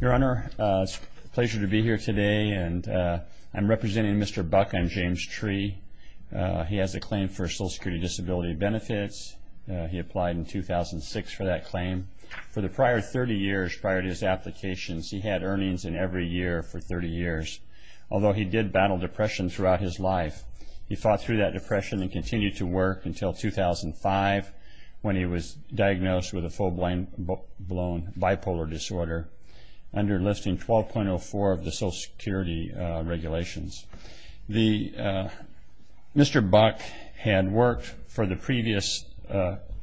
Your Honor, it's a pleasure to be here today, and I'm representing Mr. Buck and James Tree. He has a claim for Social Security Disability Benefits. He applied in 2006 for that claim. For the prior 30 years prior to his applications, he had earnings in every year for 30 years, although he did battle depression throughout his life. He fought through that depression and continued to work until 2005 when he was diagnosed with a full-blown bipolar disorder under Listing 12.04 of the Social Security regulations. Mr. Buck had worked for the previous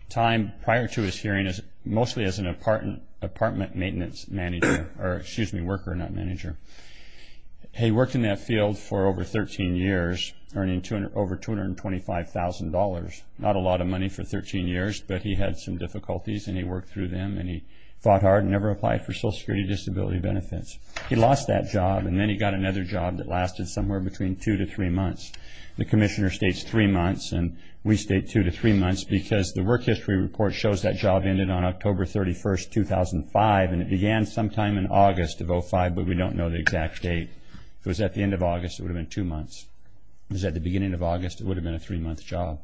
time prior to his hearing mostly as an apartment maintenance manager or, excuse me, worker, not manager. He worked in that field for over 13 years, earning over $225,000. Not a lot of money for 13 years, but he had some difficulties, and he worked through them, and he fought hard and never applied for Social Security Disability Benefits. He lost that job, and then he got another job that lasted somewhere between two to three months. The commissioner states three months, and we state two to three months because the work history report shows that job ended on October 31, 2005, and it began sometime in August of 2005, but we don't know the exact date. If it was at the end of August, it would have been two months. If it was at the beginning of August, it would have been a three-month job.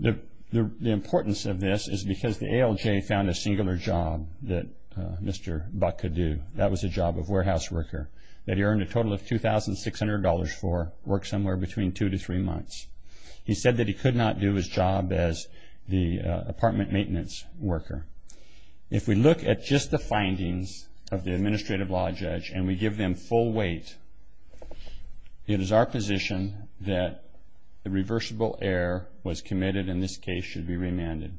The importance of this is because the ALJ found a singular job that Mr. Buck could do. That was a job of warehouse worker that he earned a total of $2,600 for, worked somewhere between two to three months. He said that he could not do his job as the apartment maintenance worker. If we look at just the findings of the administrative law judge and we give them full weight, it is our position that the reversible error was committed and this case should be remanded.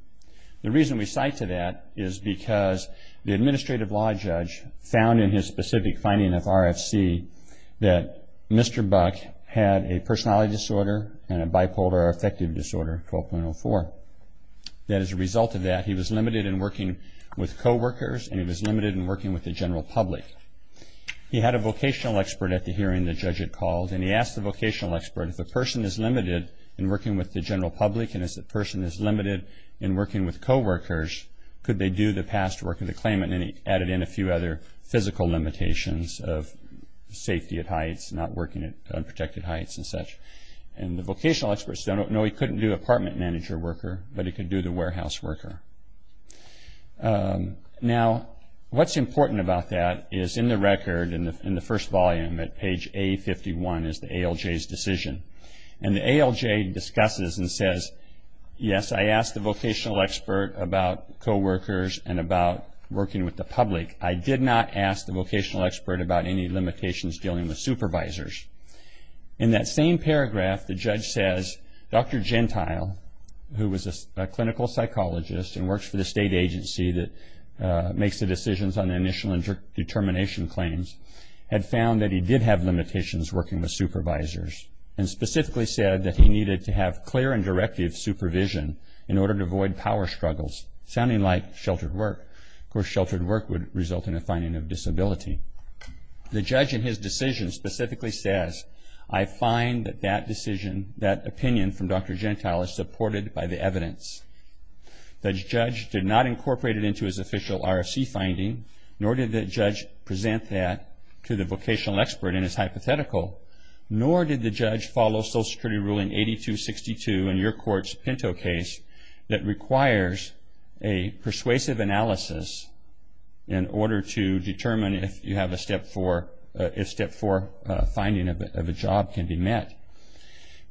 The reason we cite to that is because the administrative law judge found in his specific finding of RFC that Mr. Buck had a personality disorder and a bipolar affective disorder, 12.04. As a result of that, he was limited in working with coworkers and he was limited in working with the general public. He had a vocational expert at the hearing the judge had called, and he asked the vocational expert if the person is limited in working with the general public and if the person is limited in working with coworkers, could they do the past work of the claimant? Then he added in a few other physical limitations of safety at heights, not working at unprotected heights and such. The vocational expert said, no, he couldn't do the apartment manager worker, but he could do the warehouse worker. Now, what's important about that is in the record in the first volume at page A51 is the ALJ's decision. The ALJ discusses and says, yes, I asked the vocational expert about coworkers and about working with the public. I did not ask the vocational expert about any limitations dealing with supervisors. In that same paragraph, the judge says, Dr. Gentile, who was a clinical psychologist and works for the state agency that makes the decisions on the initial determination claims, had found that he did have limitations working with supervisors and specifically said that he needed to have clear and directive supervision in order to avoid power struggles, sounding like sheltered work. Of course, sheltered work would result in a finding of disability. The judge in his decision specifically says, I find that that decision, that opinion from Dr. Gentile is supported by the evidence. The judge did not incorporate it into his official RFC finding, nor did the judge present that to the vocational expert in his hypothetical, nor did the judge follow Social Security ruling 8262 in your court's Pinto case that requires a persuasive analysis in order to determine if you have a Step 4, if Step 4 finding of a job can be met.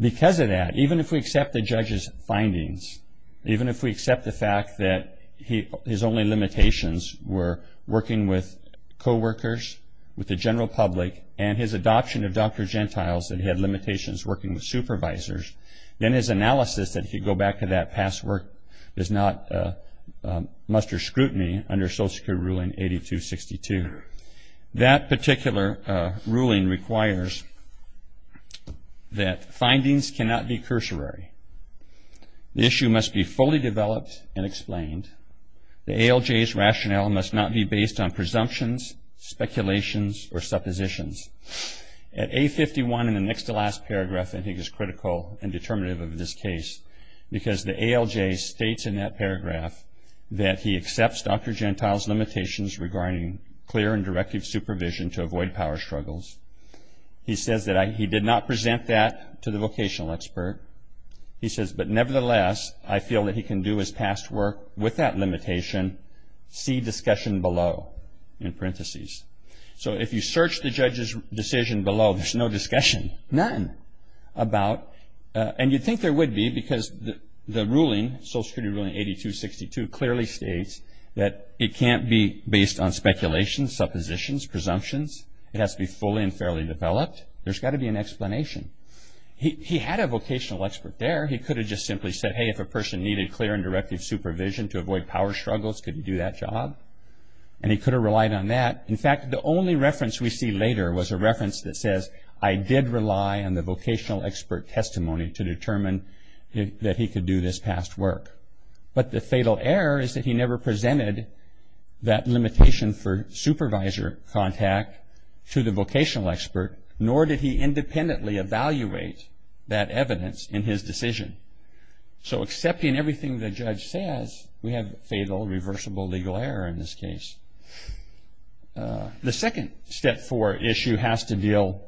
Because of that, even if we accept the judge's findings, even if we accept the fact that his only limitations were working with coworkers, with the general public, and his adoption of Dr. Gentile's, that he had limitations working with supervisors, then his analysis, if you go back to that past work, does not muster scrutiny under Social Security ruling 8262. That particular ruling requires that findings cannot be cursory. The issue must be fully developed and explained. The ALJ's rationale must not be based on presumptions, speculations, or suppositions. At A51, in the next to last paragraph, I think is critical and determinative of this case, because the ALJ states in that paragraph that he accepts Dr. Gentile's limitations regarding clear and directive supervision to avoid power struggles. He says that he did not present that to the vocational expert. He says, but nevertheless, I feel that he can do his past work with that limitation. See discussion below, in parentheses. If you search the judge's decision below, there's no discussion, none, about, and you'd think there would be, because the ruling, Social Security ruling 8262, clearly states that it can't be based on speculations, suppositions, presumptions. It has to be fully and fairly developed. There's got to be an explanation. He had a vocational expert there. He could have just simply said, hey, if a person needed clear and directive supervision to avoid power struggles, could he do that job? And he could have relied on that. In fact, the only reference we see later was a reference that says, I did rely on the vocational expert testimony to determine that he could do this past work. But the fatal error is that he never presented that limitation for supervisor contact to the vocational expert, nor did he independently evaluate that evidence in his decision. So accepting everything the judge says, we have fatal, reversible, legal error in this case. The second Step 4 issue has to deal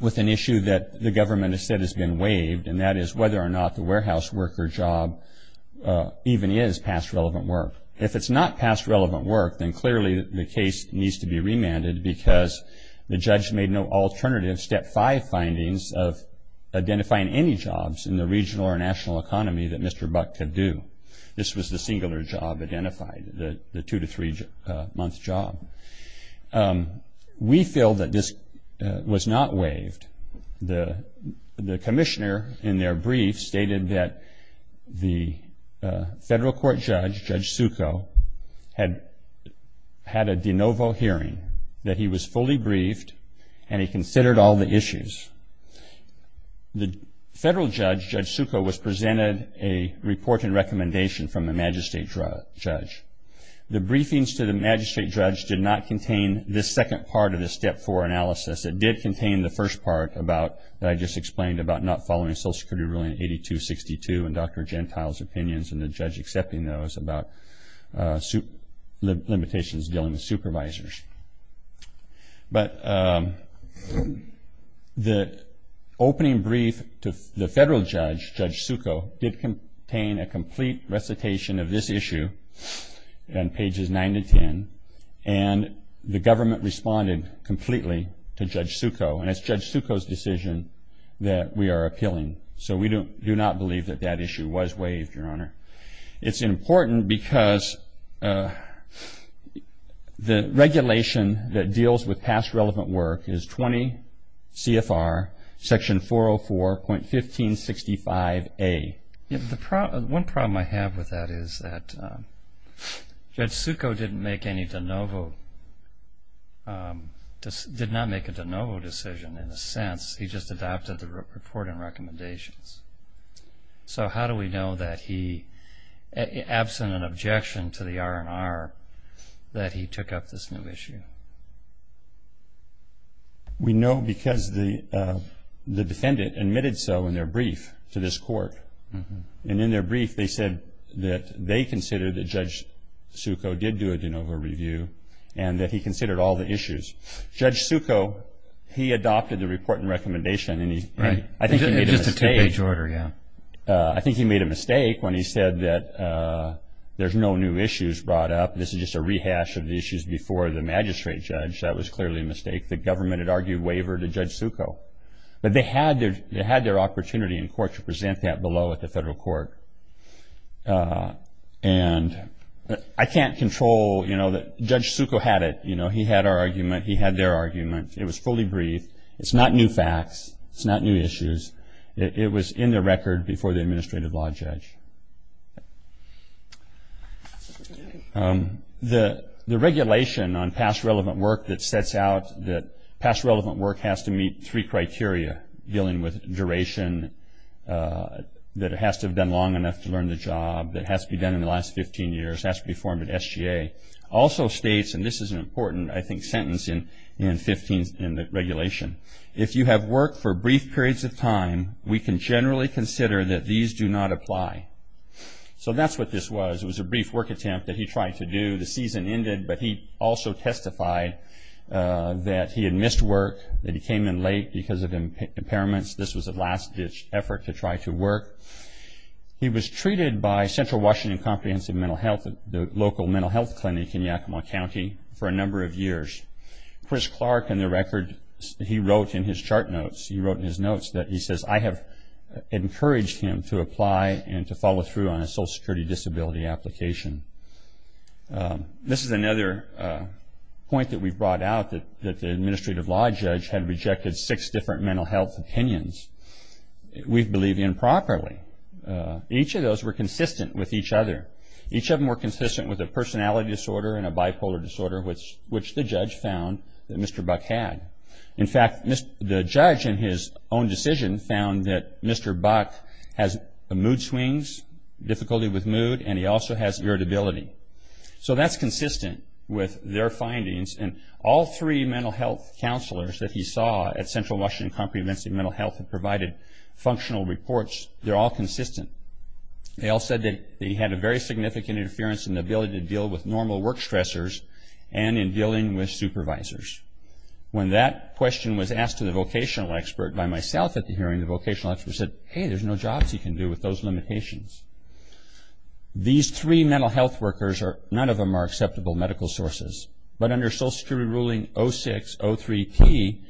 with an issue that the government has said has been waived, and that is whether or not the warehouse worker job even is past relevant work. If it's not past relevant work, then clearly the case needs to be remanded, because the judge made no alternative Step 5 findings of identifying any jobs in the regional or national economy that Mr. Buck could do. This was the singular job identified, the two- to three-month job. We feel that this was not waived. The commissioner in their brief stated that the federal court judge, Judge Succo, had had a de novo hearing, that he was fully briefed, and he considered all the issues. The federal judge, Judge Succo, was presented a report and recommendation from the magistrate judge. The briefings to the magistrate judge did not contain this second part of the Step 4 analysis. It did contain the first part about, that I just explained, about not following Social Security Rule 8262 and Dr. Gentile's opinions, and the judge accepting those, about limitations dealing with supervisors. But the opening brief to the federal judge, Judge Succo, did contain a complete recitation of this issue on pages 9 to 10, and the government responded completely to Judge Succo, and it's Judge Succo's decision that we are appealing. So we do not believe that that issue was waived, Your Honor. It's important because the regulation that deals with past relevant work is 20 CFR section 404.1565A. One problem I have with that is that Judge Succo did not make a de novo decision, in a sense. He just adopted the report and recommendations. So how do we know that he, absent an objection to the R&R, that he took up this new issue? We know because the defendant admitted so in their brief to this court, and in their brief they said that they considered that Judge Succo did do a de novo review and that he considered all the issues. Judge Succo, he adopted the report and recommendation, and I think he made a mistake. I think he made a mistake when he said that there's no new issues brought up, this is just a rehash of the issues before the magistrate judge. That was clearly a mistake. The government had argued waiver to Judge Succo. But they had their opportunity in court to present that below at the federal court. And I can't control, you know, Judge Succo had it. He had their argument. It was fully briefed. It's not new facts. It's not new issues. It was in the record before the administrative law judge. The regulation on past relevant work that sets out that past relevant work has to meet three criteria, dealing with duration, that it has to have been long enough to learn the job, that it has to be done in the last 15 years, has to be formed at SGA, also states, and this is an important, I think, sentence in the regulation, if you have worked for brief periods of time, we can generally consider that these do not apply. So that's what this was. It was a brief work attempt that he tried to do. The season ended, but he also testified that he had missed work, that he came in late because of impairments. This was a last-ditch effort to try to work. He was treated by Central Washington Comprehensive Mental Health, the local mental health clinic in Yakima County, for a number of years. Chris Clark, in the record, he wrote in his chart notes, he wrote in his notes that he says, I have encouraged him to apply and to follow through on a social security disability application. This is another point that we've brought out, that the administrative law judge had rejected six different mental health opinions. We believe improperly. Each of those were consistent with each other. Each of them were consistent with a personality disorder and a bipolar disorder, which the judge found that Mr. Buck had. In fact, the judge in his own decision found that Mr. Buck has mood swings, difficulty with mood, and he also has irritability. So that's consistent with their findings. All three mental health counselors that he saw at Central Washington Comprehensive Mental Health have provided functional reports. They're all consistent. They all said that he had a very significant interference in the ability to deal with normal work stressors and in dealing with supervisors. When that question was asked to the vocational expert by myself at the hearing, the vocational expert said, hey, there's no jobs he can do with those limitations. These three mental health workers, none of them are acceptable medical sources, but under Social Security ruling 06-03-P,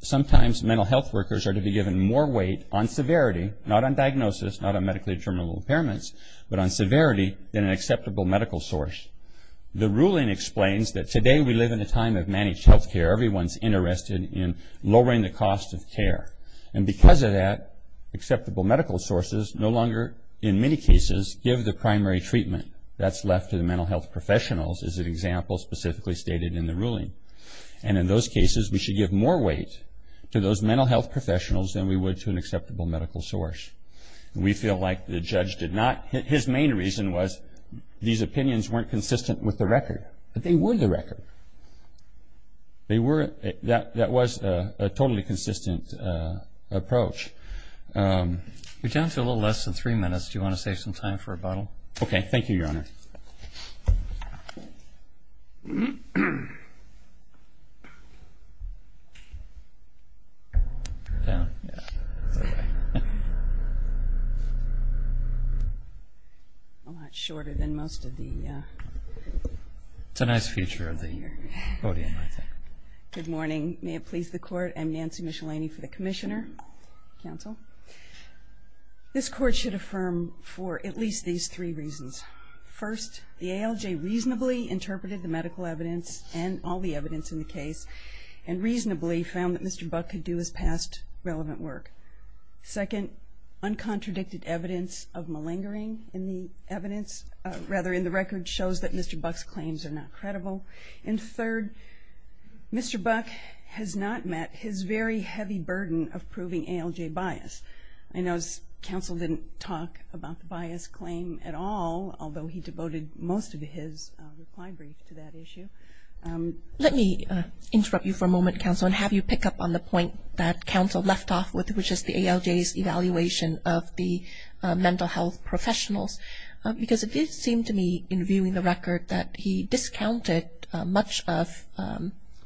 sometimes mental health workers are to be given more weight on severity, not on diagnosis, not on medically determinable impairments, but on severity than an acceptable medical source. The ruling explains that today we live in a time of managed health care. Everyone's interested in lowering the cost of care. And because of that, acceptable medical sources no longer, in many cases, give the primary treatment. That's left to the mental health professionals, as an example specifically stated in the ruling. And in those cases, we should give more weight to those mental health professionals than we would to an acceptable medical source. We feel like the judge did not – his main reason was these opinions weren't consistent with the record. But they were the record. They were – that was a totally consistent approach. You're down to a little less than three minutes. Do you want to save some time for a bottle? Okay, thank you, Your Honor. A lot shorter than most of the – It's a nice feature of the podium, I think. Good morning. May it please the Court. I'm Nancy Michelini for the Commissioner. Counsel. This Court should affirm for at least these three reasons. First, the ALJ reasonably interpreted the medical evidence and all the evidence in the case and reasonably found that Mr. Buck could do his past relevant work. Second, uncontradicted evidence of malingering in the evidence – rather, in the record shows that Mr. Buck's claims are not credible. And third, Mr. Buck has not met his very heavy burden of proving ALJ bias. I know counsel didn't talk about the bias claim at all, although he devoted most of his reply brief to that issue. Let me interrupt you for a moment, counsel, and have you pick up on the point that counsel left off with, which is the ALJ's evaluation of the mental health professionals. Because it did seem to me, in viewing the record, that he discounted much of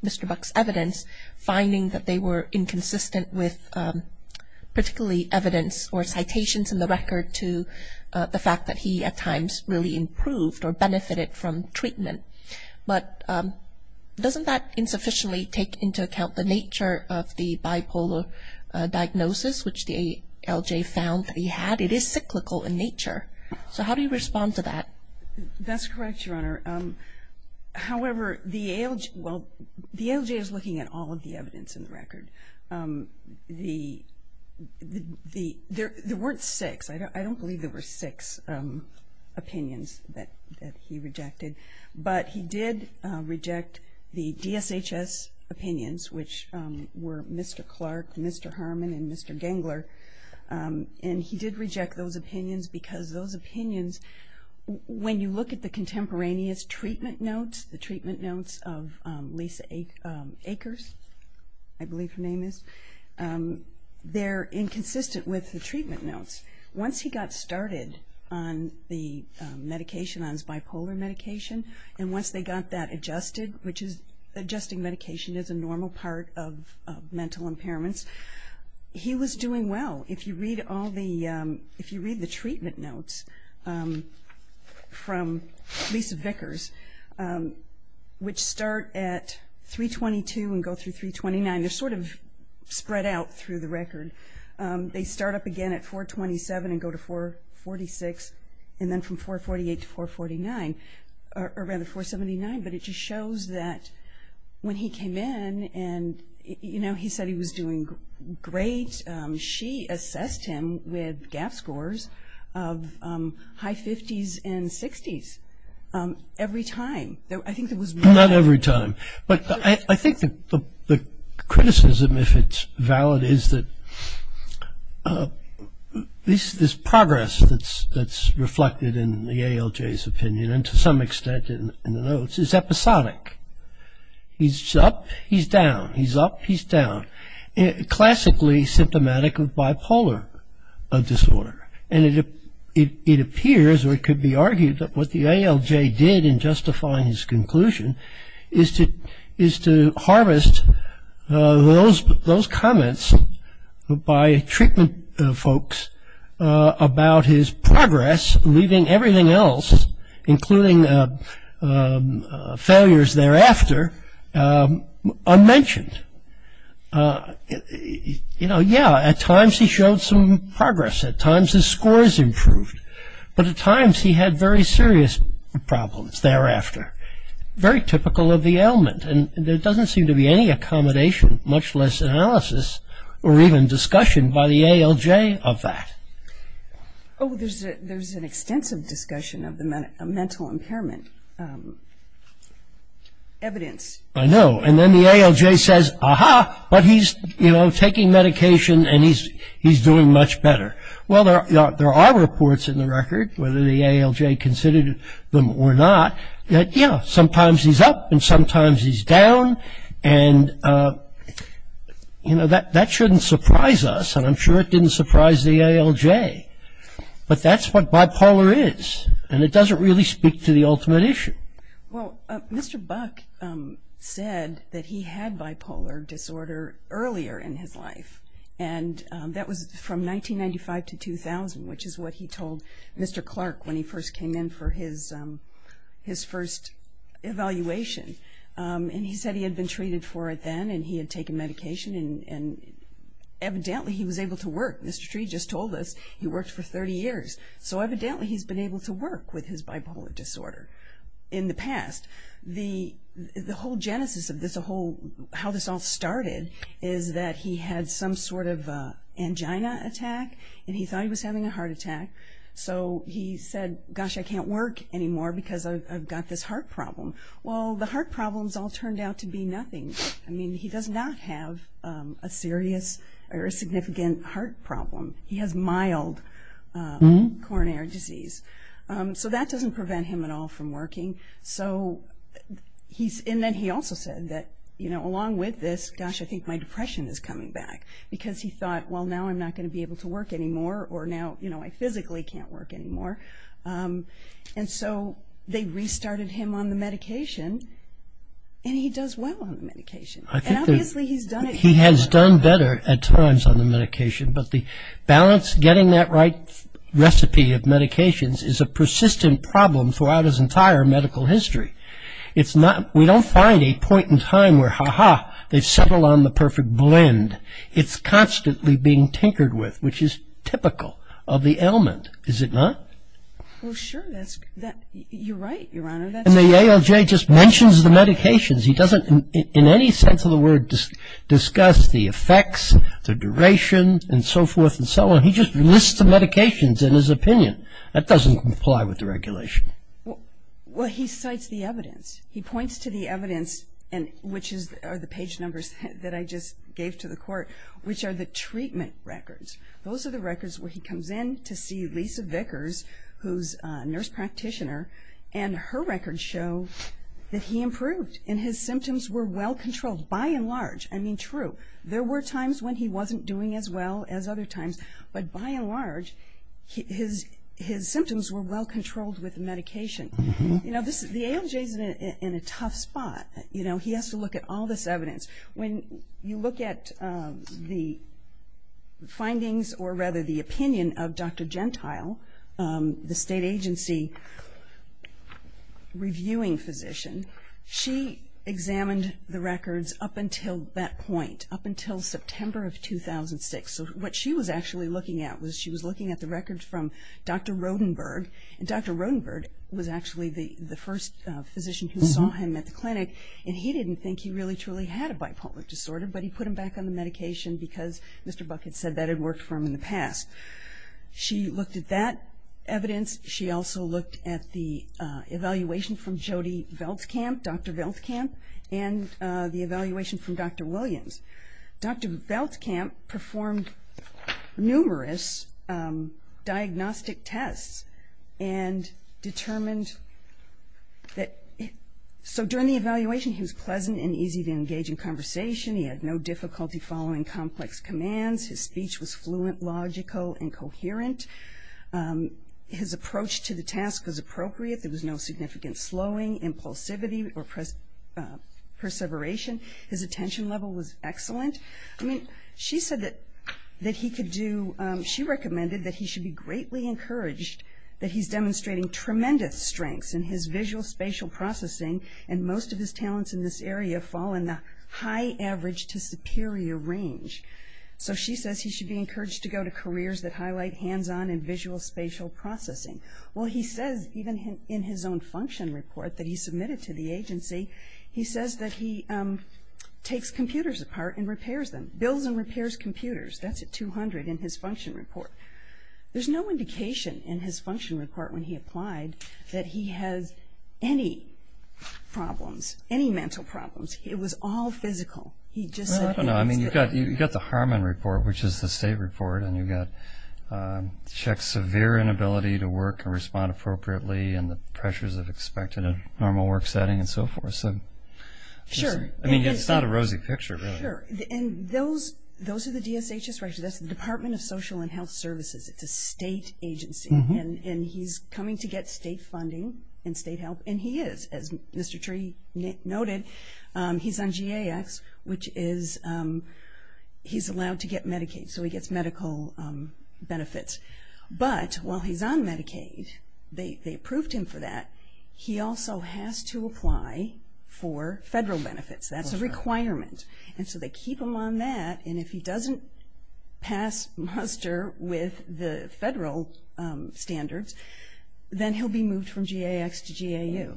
Mr. Buck's evidence, finding that they were inconsistent with particularly evidence or citations in the record to the fact that he at times really improved or benefited from treatment. But doesn't that insufficiently take into account the nature of the bipolar diagnosis, which the ALJ found that he had? It is cyclical in nature. So how do you respond to that? That's correct, Your Honor. However, the ALJ is looking at all of the evidence in the record. There weren't six. I don't believe there were six opinions that he rejected. But he did reject the DSHS opinions, which were Mr. Clark, Mr. Harmon, and Mr. Gangler. And he did reject those opinions because those opinions, when you look at the contemporaneous treatment notes, the treatment notes of Lisa Akers, I believe her name is, they're inconsistent with the treatment notes. Once he got started on the medication, on his bipolar medication, and once they got that adjusted, which adjusting medication is a normal part of mental impairments, he was doing well. If you read the treatment notes from Lisa Vickers, which start at 322 and go through 329, they're sort of spread out through the record. They start up again at 427 and go to 446, and then from 448 to 449, or rather 479. But it just shows that when he came in and, you know, he said he was doing great, she assessed him with gap scores of high 50s and 60s every time. I think there was more than that. Not every time. But I think the criticism, if it's valid, is that this progress that's reflected in the ALJ's opinion, and to some extent in the notes, is episodic. He's up, he's down. He's up, he's down. Classically symptomatic of bipolar disorder. And it appears, or it could be argued, that what the ALJ did in justifying his conclusion is to harvest those comments by treatment folks about his progress, leaving everything else, including failures thereafter, unmentioned. You know, yeah, at times he showed some progress. At times his scores improved. But at times he had very serious problems thereafter. Very typical of the ailment. And there doesn't seem to be any accommodation, much less analysis, or even discussion by the ALJ of that. Oh, there's an extensive discussion of the mental impairment evidence. I know. And then the ALJ says, ah-ha, but he's, you know, taking medication and he's doing much better. Well, there are reports in the record, whether the ALJ considered them or not, that, yeah, sometimes he's up and sometimes he's down. And, you know, that shouldn't surprise us. And I'm sure it didn't surprise the ALJ. But that's what bipolar is. And it doesn't really speak to the ultimate issue. Well, Mr. Buck said that he had bipolar disorder earlier in his life. And that was from 1995 to 2000, which is what he told Mr. Clark when he first came in for his first evaluation. And he said he had been treated for it then and he had taken medication, and evidently he was able to work. Mr. Tree just told us he worked for 30 years. So evidently he's been able to work with his bipolar disorder in the past. The whole genesis of this, how this all started, is that he had some sort of angina attack and he thought he was having a heart attack. So he said, gosh, I can't work anymore because I've got this heart problem. Well, the heart problems all turned out to be nothing. I mean, he does not have a serious or a significant heart problem. He has mild coronary disease. So that doesn't prevent him at all from working. And then he also said that, you know, along with this, gosh, I think my depression is coming back, because he thought, well, now I'm not going to be able to work anymore, or now, you know, I physically can't work anymore. And so they restarted him on the medication, and he does well on the medication. And obviously he's done it better. He has done better at times on the medication. But the balance, getting that right recipe of medications, is a persistent problem throughout his entire medical history. We don't find a point in time where, ha-ha, they've settled on the perfect blend. It's constantly being tinkered with, which is typical of the ailment, is it not? Well, sure. You're right, Your Honor. And the ALJ just mentions the medications. He doesn't, in any sense of the word, discuss the effects, the duration, and so forth and so on. He just lists the medications in his opinion. That doesn't comply with the regulation. Well, he cites the evidence. He points to the evidence, which are the page numbers that I just gave to the court, which are the treatment records. Those are the records where he comes in to see Lisa Vickers, who's a nurse practitioner, and her records show that he improved and his symptoms were well-controlled, by and large. I mean, true, there were times when he wasn't doing as well as other times, but by and large his symptoms were well-controlled with the medication. You know, the ALJ is in a tough spot. You know, he has to look at all this evidence. When you look at the findings, or rather the opinion, of Dr. Gentile, the state agency reviewing physician, she examined the records up until that point, up until September of 2006. So what she was actually looking at was she was looking at the records from Dr. Rodenberg, and Dr. Rodenberg was actually the first physician who saw him at the clinic, and he didn't think he really truly had a bipolar disorder, but he put him back on the medication because Mr. Buck had said that it worked for him in the past. She looked at that evidence. She also looked at the evaluation from Jody Veltkamp, Dr. Veltkamp, and the evaluation from Dr. Williams. Dr. Veltkamp performed numerous diagnostic tests and determined that, so during the evaluation he was pleasant and easy to engage in conversation. He had no difficulty following complex commands. His speech was fluent, logical, and coherent. His approach to the task was appropriate. There was no significant slowing, impulsivity, or perseveration. His attention level was excellent. I mean, she said that he could do, she recommended that he should be greatly encouraged that he's demonstrating tremendous strengths in his visual-spatial processing, and most of his talents in this area fall in the high average to superior range. So she says he should be encouraged to go to careers that highlight hands-on and visual-spatial processing. Well, he says, even in his own function report that he submitted to the agency, he says that he takes computers apart and repairs them, builds and repairs computers. That's at 200 in his function report. There's no indication in his function report when he applied that he has any problems, any mental problems. It was all physical. He just said, hey, let's get going. Well, I don't know. I mean, you've got the Harmon report, which is the state report, and you've got checks severe inability to work and respond appropriately and the pressures of expected normal work setting and so forth. Sure. I mean, it's not a rosy picture, really. Sure. And those are the DSHS records. That's the Department of Social and Health Services. It's a state agency, and he's coming to get state funding and state help, and he is. As Mr. Tree noted, he's on GAX, which is he's allowed to get Medicaid, so he gets medical benefits. But while he's on Medicaid, they approved him for that, he also has to apply for federal benefits. That's a requirement, and so they keep him on that, and if he doesn't pass muster with the federal standards, then he'll be moved from GAX to GAU.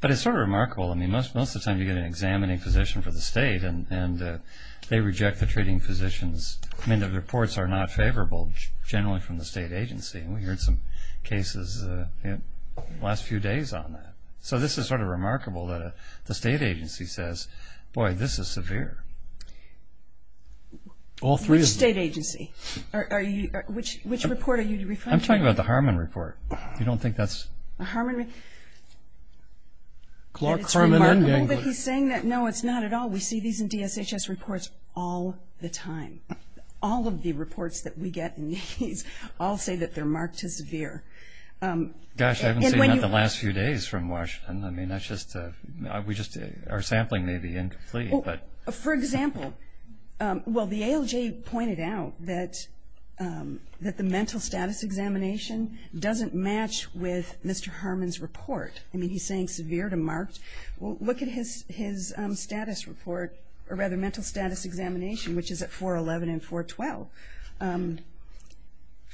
But it's sort of remarkable. I mean, most of the time you get an examining physician for the state, and they reject the treating physicians. I mean, the reports are not favorable generally from the state agency, and we heard some cases the last few days on that. So this is sort of remarkable that the state agency says, boy, this is severe. All three of them. Which state agency? Which report are you referring to? I'm talking about the Harmon report. You don't think that's? Clark, Harmon, and Gingrich. Clark, Harmon, and Gingrich. No, it's not at all. We see these in DSHS reports all the time. All of the reports that we get in these all say that they're marked as severe. Gosh, I haven't seen that the last few days from Washington. I mean, that's just a – our sampling may be incomplete. For example, well, the ALJ pointed out that the mental status examination doesn't match with Mr. Harmon's report. I mean, he's saying severe to marked. Well, look at his status report, or rather mental status examination, which is at 411 and 412.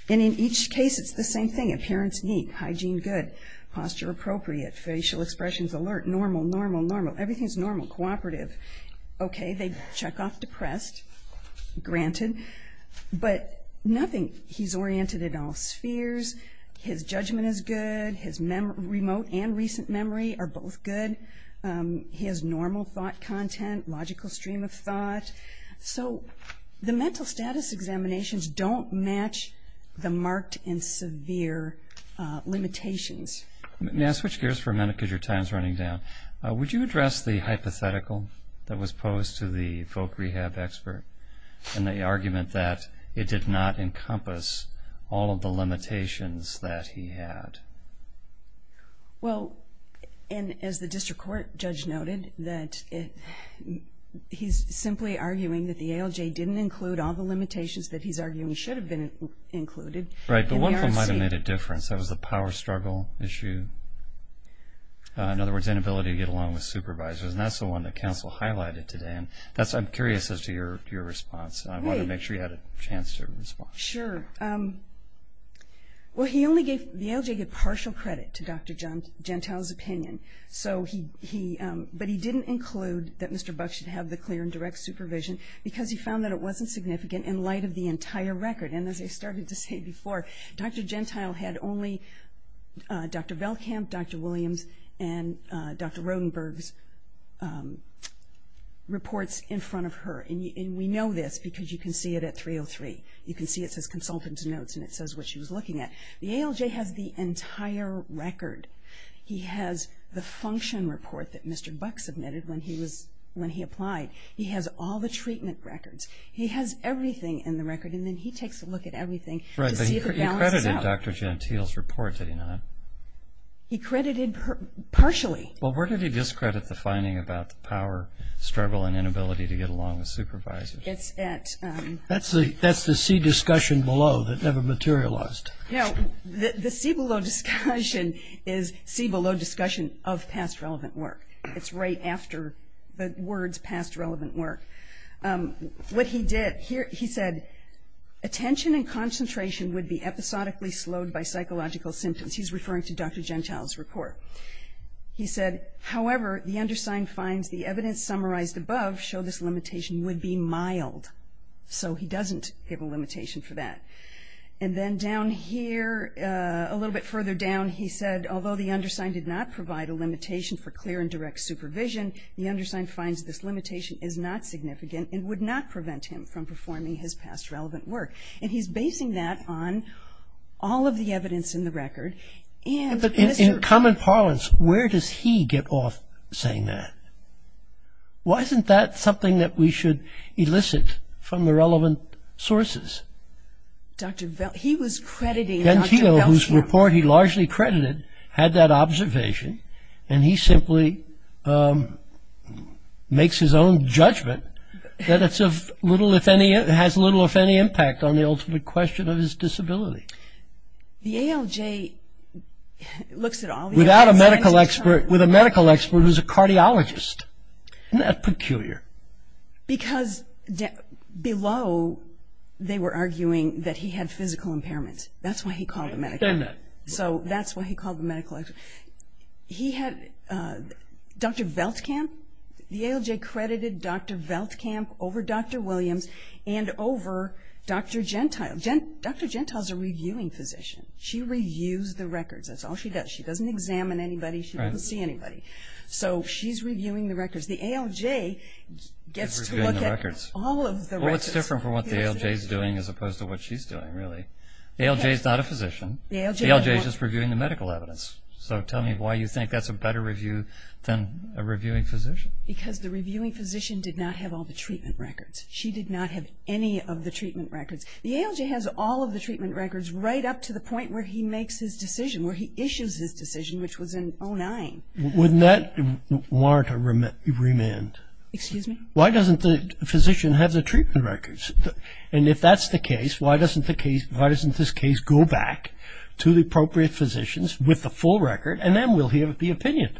And in each case it's the same thing. Appearance neat. Hygiene good. Posture appropriate. Facial expressions alert. Normal, normal, normal. Everything's normal. Cooperative. Okay, they check off depressed. Granted. But nothing – he's oriented in all spheres. His judgment is good. His remote and recent memory are both good. He has normal thought content, logical stream of thought. So the mental status examinations don't match the marked and severe limitations. May I switch gears for a minute because your time is running down? Would you address the hypothetical that was posed to the folk rehab expert and the argument that it did not encompass all of the limitations that he had? Well, and as the district court judge noted, that he's simply arguing that the ALJ didn't include all the limitations that he's arguing should have been included. Right, but one thing might have made a difference. That was the power struggle issue. In other words, inability to get along with supervisors. And that's the one that counsel highlighted today. And I'm curious as to your response. I wanted to make sure you had a chance to respond. Sure. Well, the ALJ gave partial credit to Dr. Gentile's opinion. But he didn't include that Mr. Buck should have the clear and direct supervision because he found that it wasn't significant in light of the entire record. And as I started to say before, Dr. Gentile had only Dr. Velkamp, Dr. Williams, and Dr. Rodenberg's reports in front of her. And we know this because you can see it at 303. You can see it says consultant's notes and it says what she was looking at. The ALJ has the entire record. He has the function report that Mr. Buck submitted when he applied. He has all the treatment records. He has everything in the record. And then he takes a look at everything to see if it balances out. Right, but he credited Dr. Gentile's report, did he not? He credited partially. Well, where did he discredit the finding about the power, struggle, and inability to get along with supervisors? It's at- That's the C discussion below that never materialized. No, the C below discussion is C below discussion of past relevant work. It's right after the words past relevant work. What he did, he said, attention and concentration would be episodically slowed by psychological symptoms. He's referring to Dr. Gentile's report. He said, however, the undersigned finds the evidence summarized above show this limitation would be mild. So he doesn't give a limitation for that. And then down here, a little bit further down, he said, although the undersigned did not provide a limitation for clear and direct supervision, the undersigned finds this limitation is not significant and would not prevent him from performing his past relevant work. And he's basing that on all of the evidence in the record. But in common parlance, where does he get off saying that? Why isn't that something that we should elicit from the relevant sources? He was crediting Dr. Gentile. His report, he largely credited, had that observation. And he simply makes his own judgment that it has little, if any, impact on the ultimate question of his disability. The ALJ looks at all of these. Without a medical expert. With a medical expert who's a cardiologist. Isn't that peculiar? Because below, they were arguing that he had physical impairments. That's why he called the medical expert. So that's why he called the medical expert. He had Dr. Veltkamp. The ALJ credited Dr. Veltkamp over Dr. Williams and over Dr. Gentile. Dr. Gentile's a reviewing physician. She reviews the records. That's all she does. She doesn't examine anybody. She doesn't see anybody. So she's reviewing the records. The ALJ gets to look at all of the records. That's what's different from what the ALJ is doing as opposed to what she's doing, really. The ALJ is not a physician. The ALJ is just reviewing the medical evidence. So tell me why you think that's a better review than a reviewing physician. Because the reviewing physician did not have all the treatment records. She did not have any of the treatment records. The ALJ has all of the treatment records right up to the point where he makes his decision, where he issues his decision, which was in 2009. Wouldn't that warrant a remand? Excuse me? Why doesn't the physician have the treatment records? And if that's the case, why doesn't this case go back to the appropriate physicians with the full record, and then we'll hear the opinion?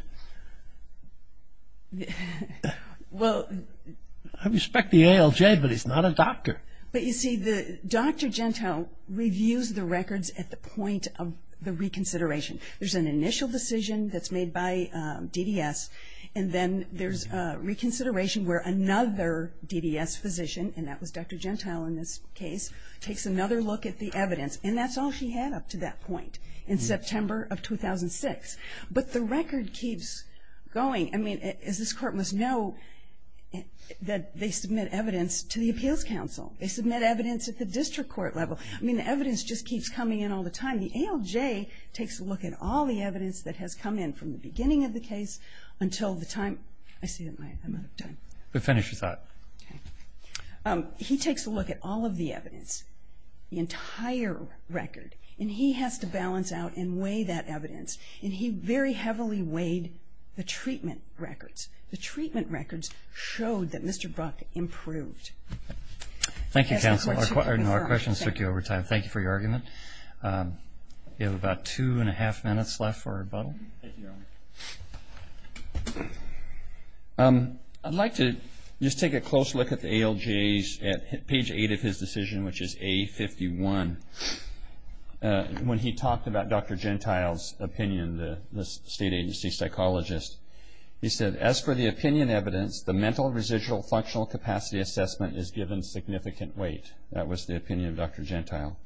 I respect the ALJ, but he's not a doctor. But, you see, Dr. Gentile reviews the records at the point of the reconsideration. There's an initial decision that's made by DDS, and then there's a reconsideration where another DDS physician, and that was Dr. Gentile in this case, takes another look at the evidence. And that's all she had up to that point in September of 2006. But the record keeps going. I mean, as this Court must know, they submit evidence to the Appeals Council. They submit evidence at the district court level. I mean, the evidence just keeps coming in all the time. And the ALJ takes a look at all the evidence that has come in from the beginning of the case until the time. I see that I'm out of time. Finish your thought. Okay. He takes a look at all of the evidence, the entire record, and he has to balance out and weigh that evidence. And he very heavily weighed the treatment records. The treatment records showed that Mr. Buck improved. Thank you, Counselor. Our questions took you over time. Thank you for your argument. We have about two and a half minutes left for rebuttal. I'd like to just take a close look at the ALJ's at page 8 of his decision, which is A51. When he talked about Dr. Gentile's opinion, the state agency psychologist, he said, As for the opinion evidence, the mental, residual, functional capacity assessment is given significant weight. That was the opinion of Dr. Gentile.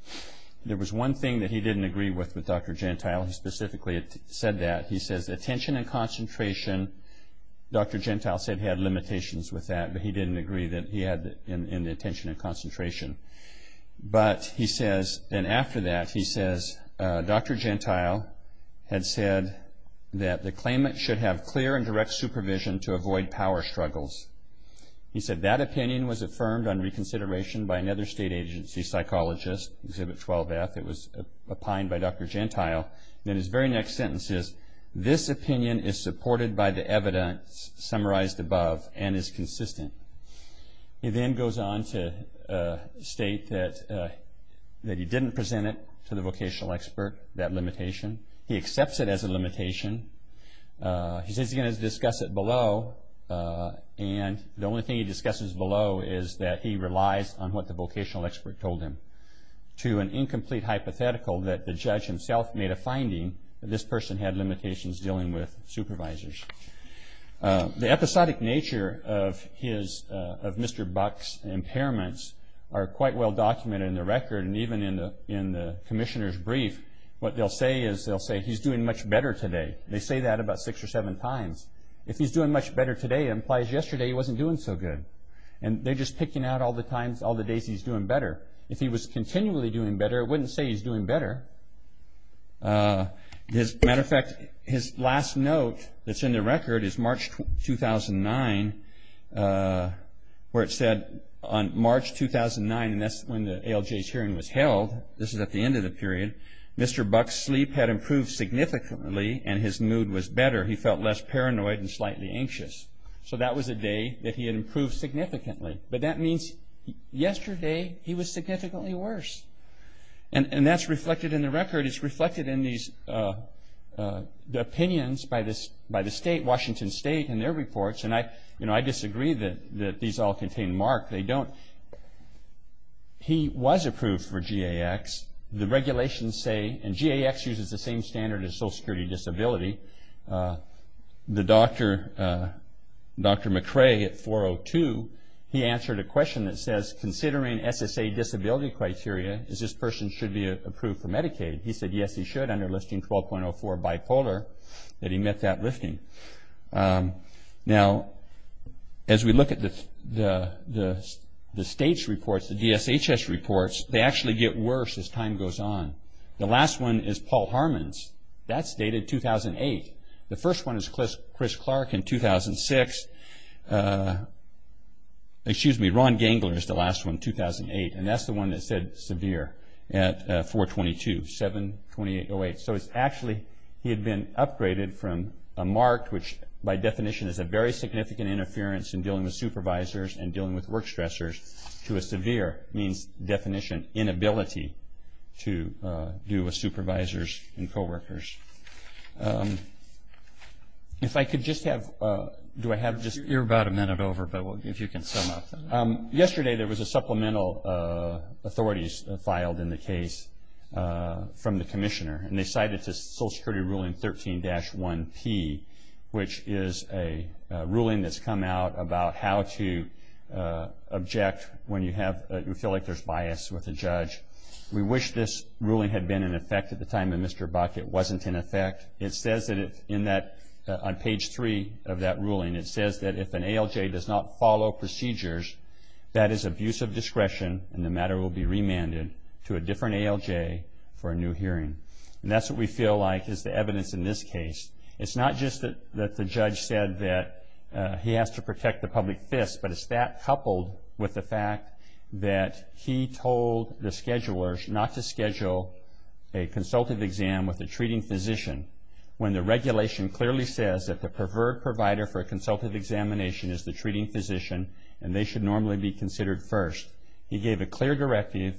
There was one thing that he didn't agree with with Dr. Gentile. He specifically said that. He says attention and concentration, Dr. Gentile said he had limitations with that, but he didn't agree that he had in the attention and concentration. But he says, and after that, he says, Dr. Gentile had said that the claimant should have clear and direct supervision to avoid power struggles. He said that opinion was affirmed on reconsideration by another state agency psychologist, Exhibit 12F. It was opined by Dr. Gentile. Then his very next sentence is, This opinion is supported by the evidence summarized above and is consistent. He then goes on to state that he didn't present it to the vocational expert, that limitation. He accepts it as a limitation. He says he's going to discuss it below, and the only thing he discusses below is that he relies on what the vocational expert told him. To an incomplete hypothetical that the judge himself made a finding that this person had limitations dealing with supervisors. The episodic nature of Mr. Buck's impairments are quite well documented in the record, and even in the commissioner's brief. What they'll say is they'll say he's doing much better today. They say that about six or seven times. If he's doing much better today, it implies yesterday he wasn't doing so good, and they're just picking out all the times, all the days he's doing better. If he was continually doing better, it wouldn't say he's doing better. As a matter of fact, his last note that's in the record is March 2009, where it said on March 2009, and that's when the ALJ's hearing was held. This is at the end of the period. Mr. Buck's sleep had improved significantly, and his mood was better. He felt less paranoid and slightly anxious. So that was a day that he had improved significantly, but that means yesterday he was significantly worse, and that's reflected in the record. It's reflected in the opinions by the state, Washington State, in their reports, and I disagree that these all contain mark. They don't. He was approved for GAX. The regulations say, and GAX uses the same standard as Social Security Disability. Dr. McRae at 402, he answered a question that says, considering SSA disability criteria, is this person should be approved for Medicaid? He said, yes, he should, under listing 12.04 bipolar, that he met that listing. Now, as we look at the state's reports, the DSHS reports, they actually get worse as time goes on. The last one is Paul Harman's. That's dated 2008. The first one is Chris Clark in 2006. Excuse me, Ron Gangler is the last one, 2008, and that's the one that said severe at 422, 7-2808. So it's actually, he had been upgraded from a mark, which by definition is a very significant interference in dealing with supervisors and dealing with work stressors, to a severe, means definition, inability to deal with supervisors and coworkers. If I could just have, do I have just. You're about a minute over, but if you can sum up. Yesterday there was a supplemental authorities filed in the case from the commissioner, and they cited Social Security Ruling 13-1P, which is a ruling that's come out about how to object when you have, you feel like there's bias with a judge. We wish this ruling had been in effect at the time of Mr. Buck. It wasn't in effect. It says that on page three of that ruling, it says that if an ALJ does not follow procedures, that is abuse of discretion and the matter will be remanded to a different ALJ for a new hearing. And that's what we feel like is the evidence in this case. It's not just that the judge said that he has to protect the public fist, but it's that coupled with the fact that he told the schedulers not to schedule a consultative exam with a treating physician when the regulation clearly says that the preferred provider for a consultative examination is the treating physician and they should normally be considered first. He gave a clear directive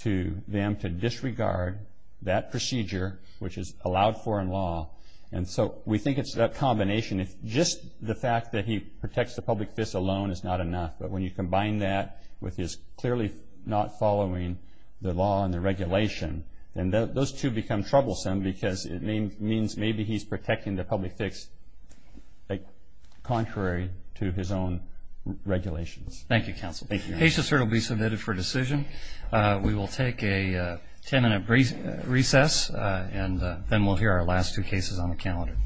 to them to disregard that procedure, which is allowed for in law, and so we think it's that combination. If just the fact that he protects the public fist alone is not enough, but when you combine that with his clearly not following the law and the regulation, then those two become troublesome because it means maybe he's protecting the public fist contrary to his own regulations. Thank you, counsel. Thank you. Case to serve will be submitted for decision. We will take a ten-minute recess and then we'll hear our last two cases on the calendar.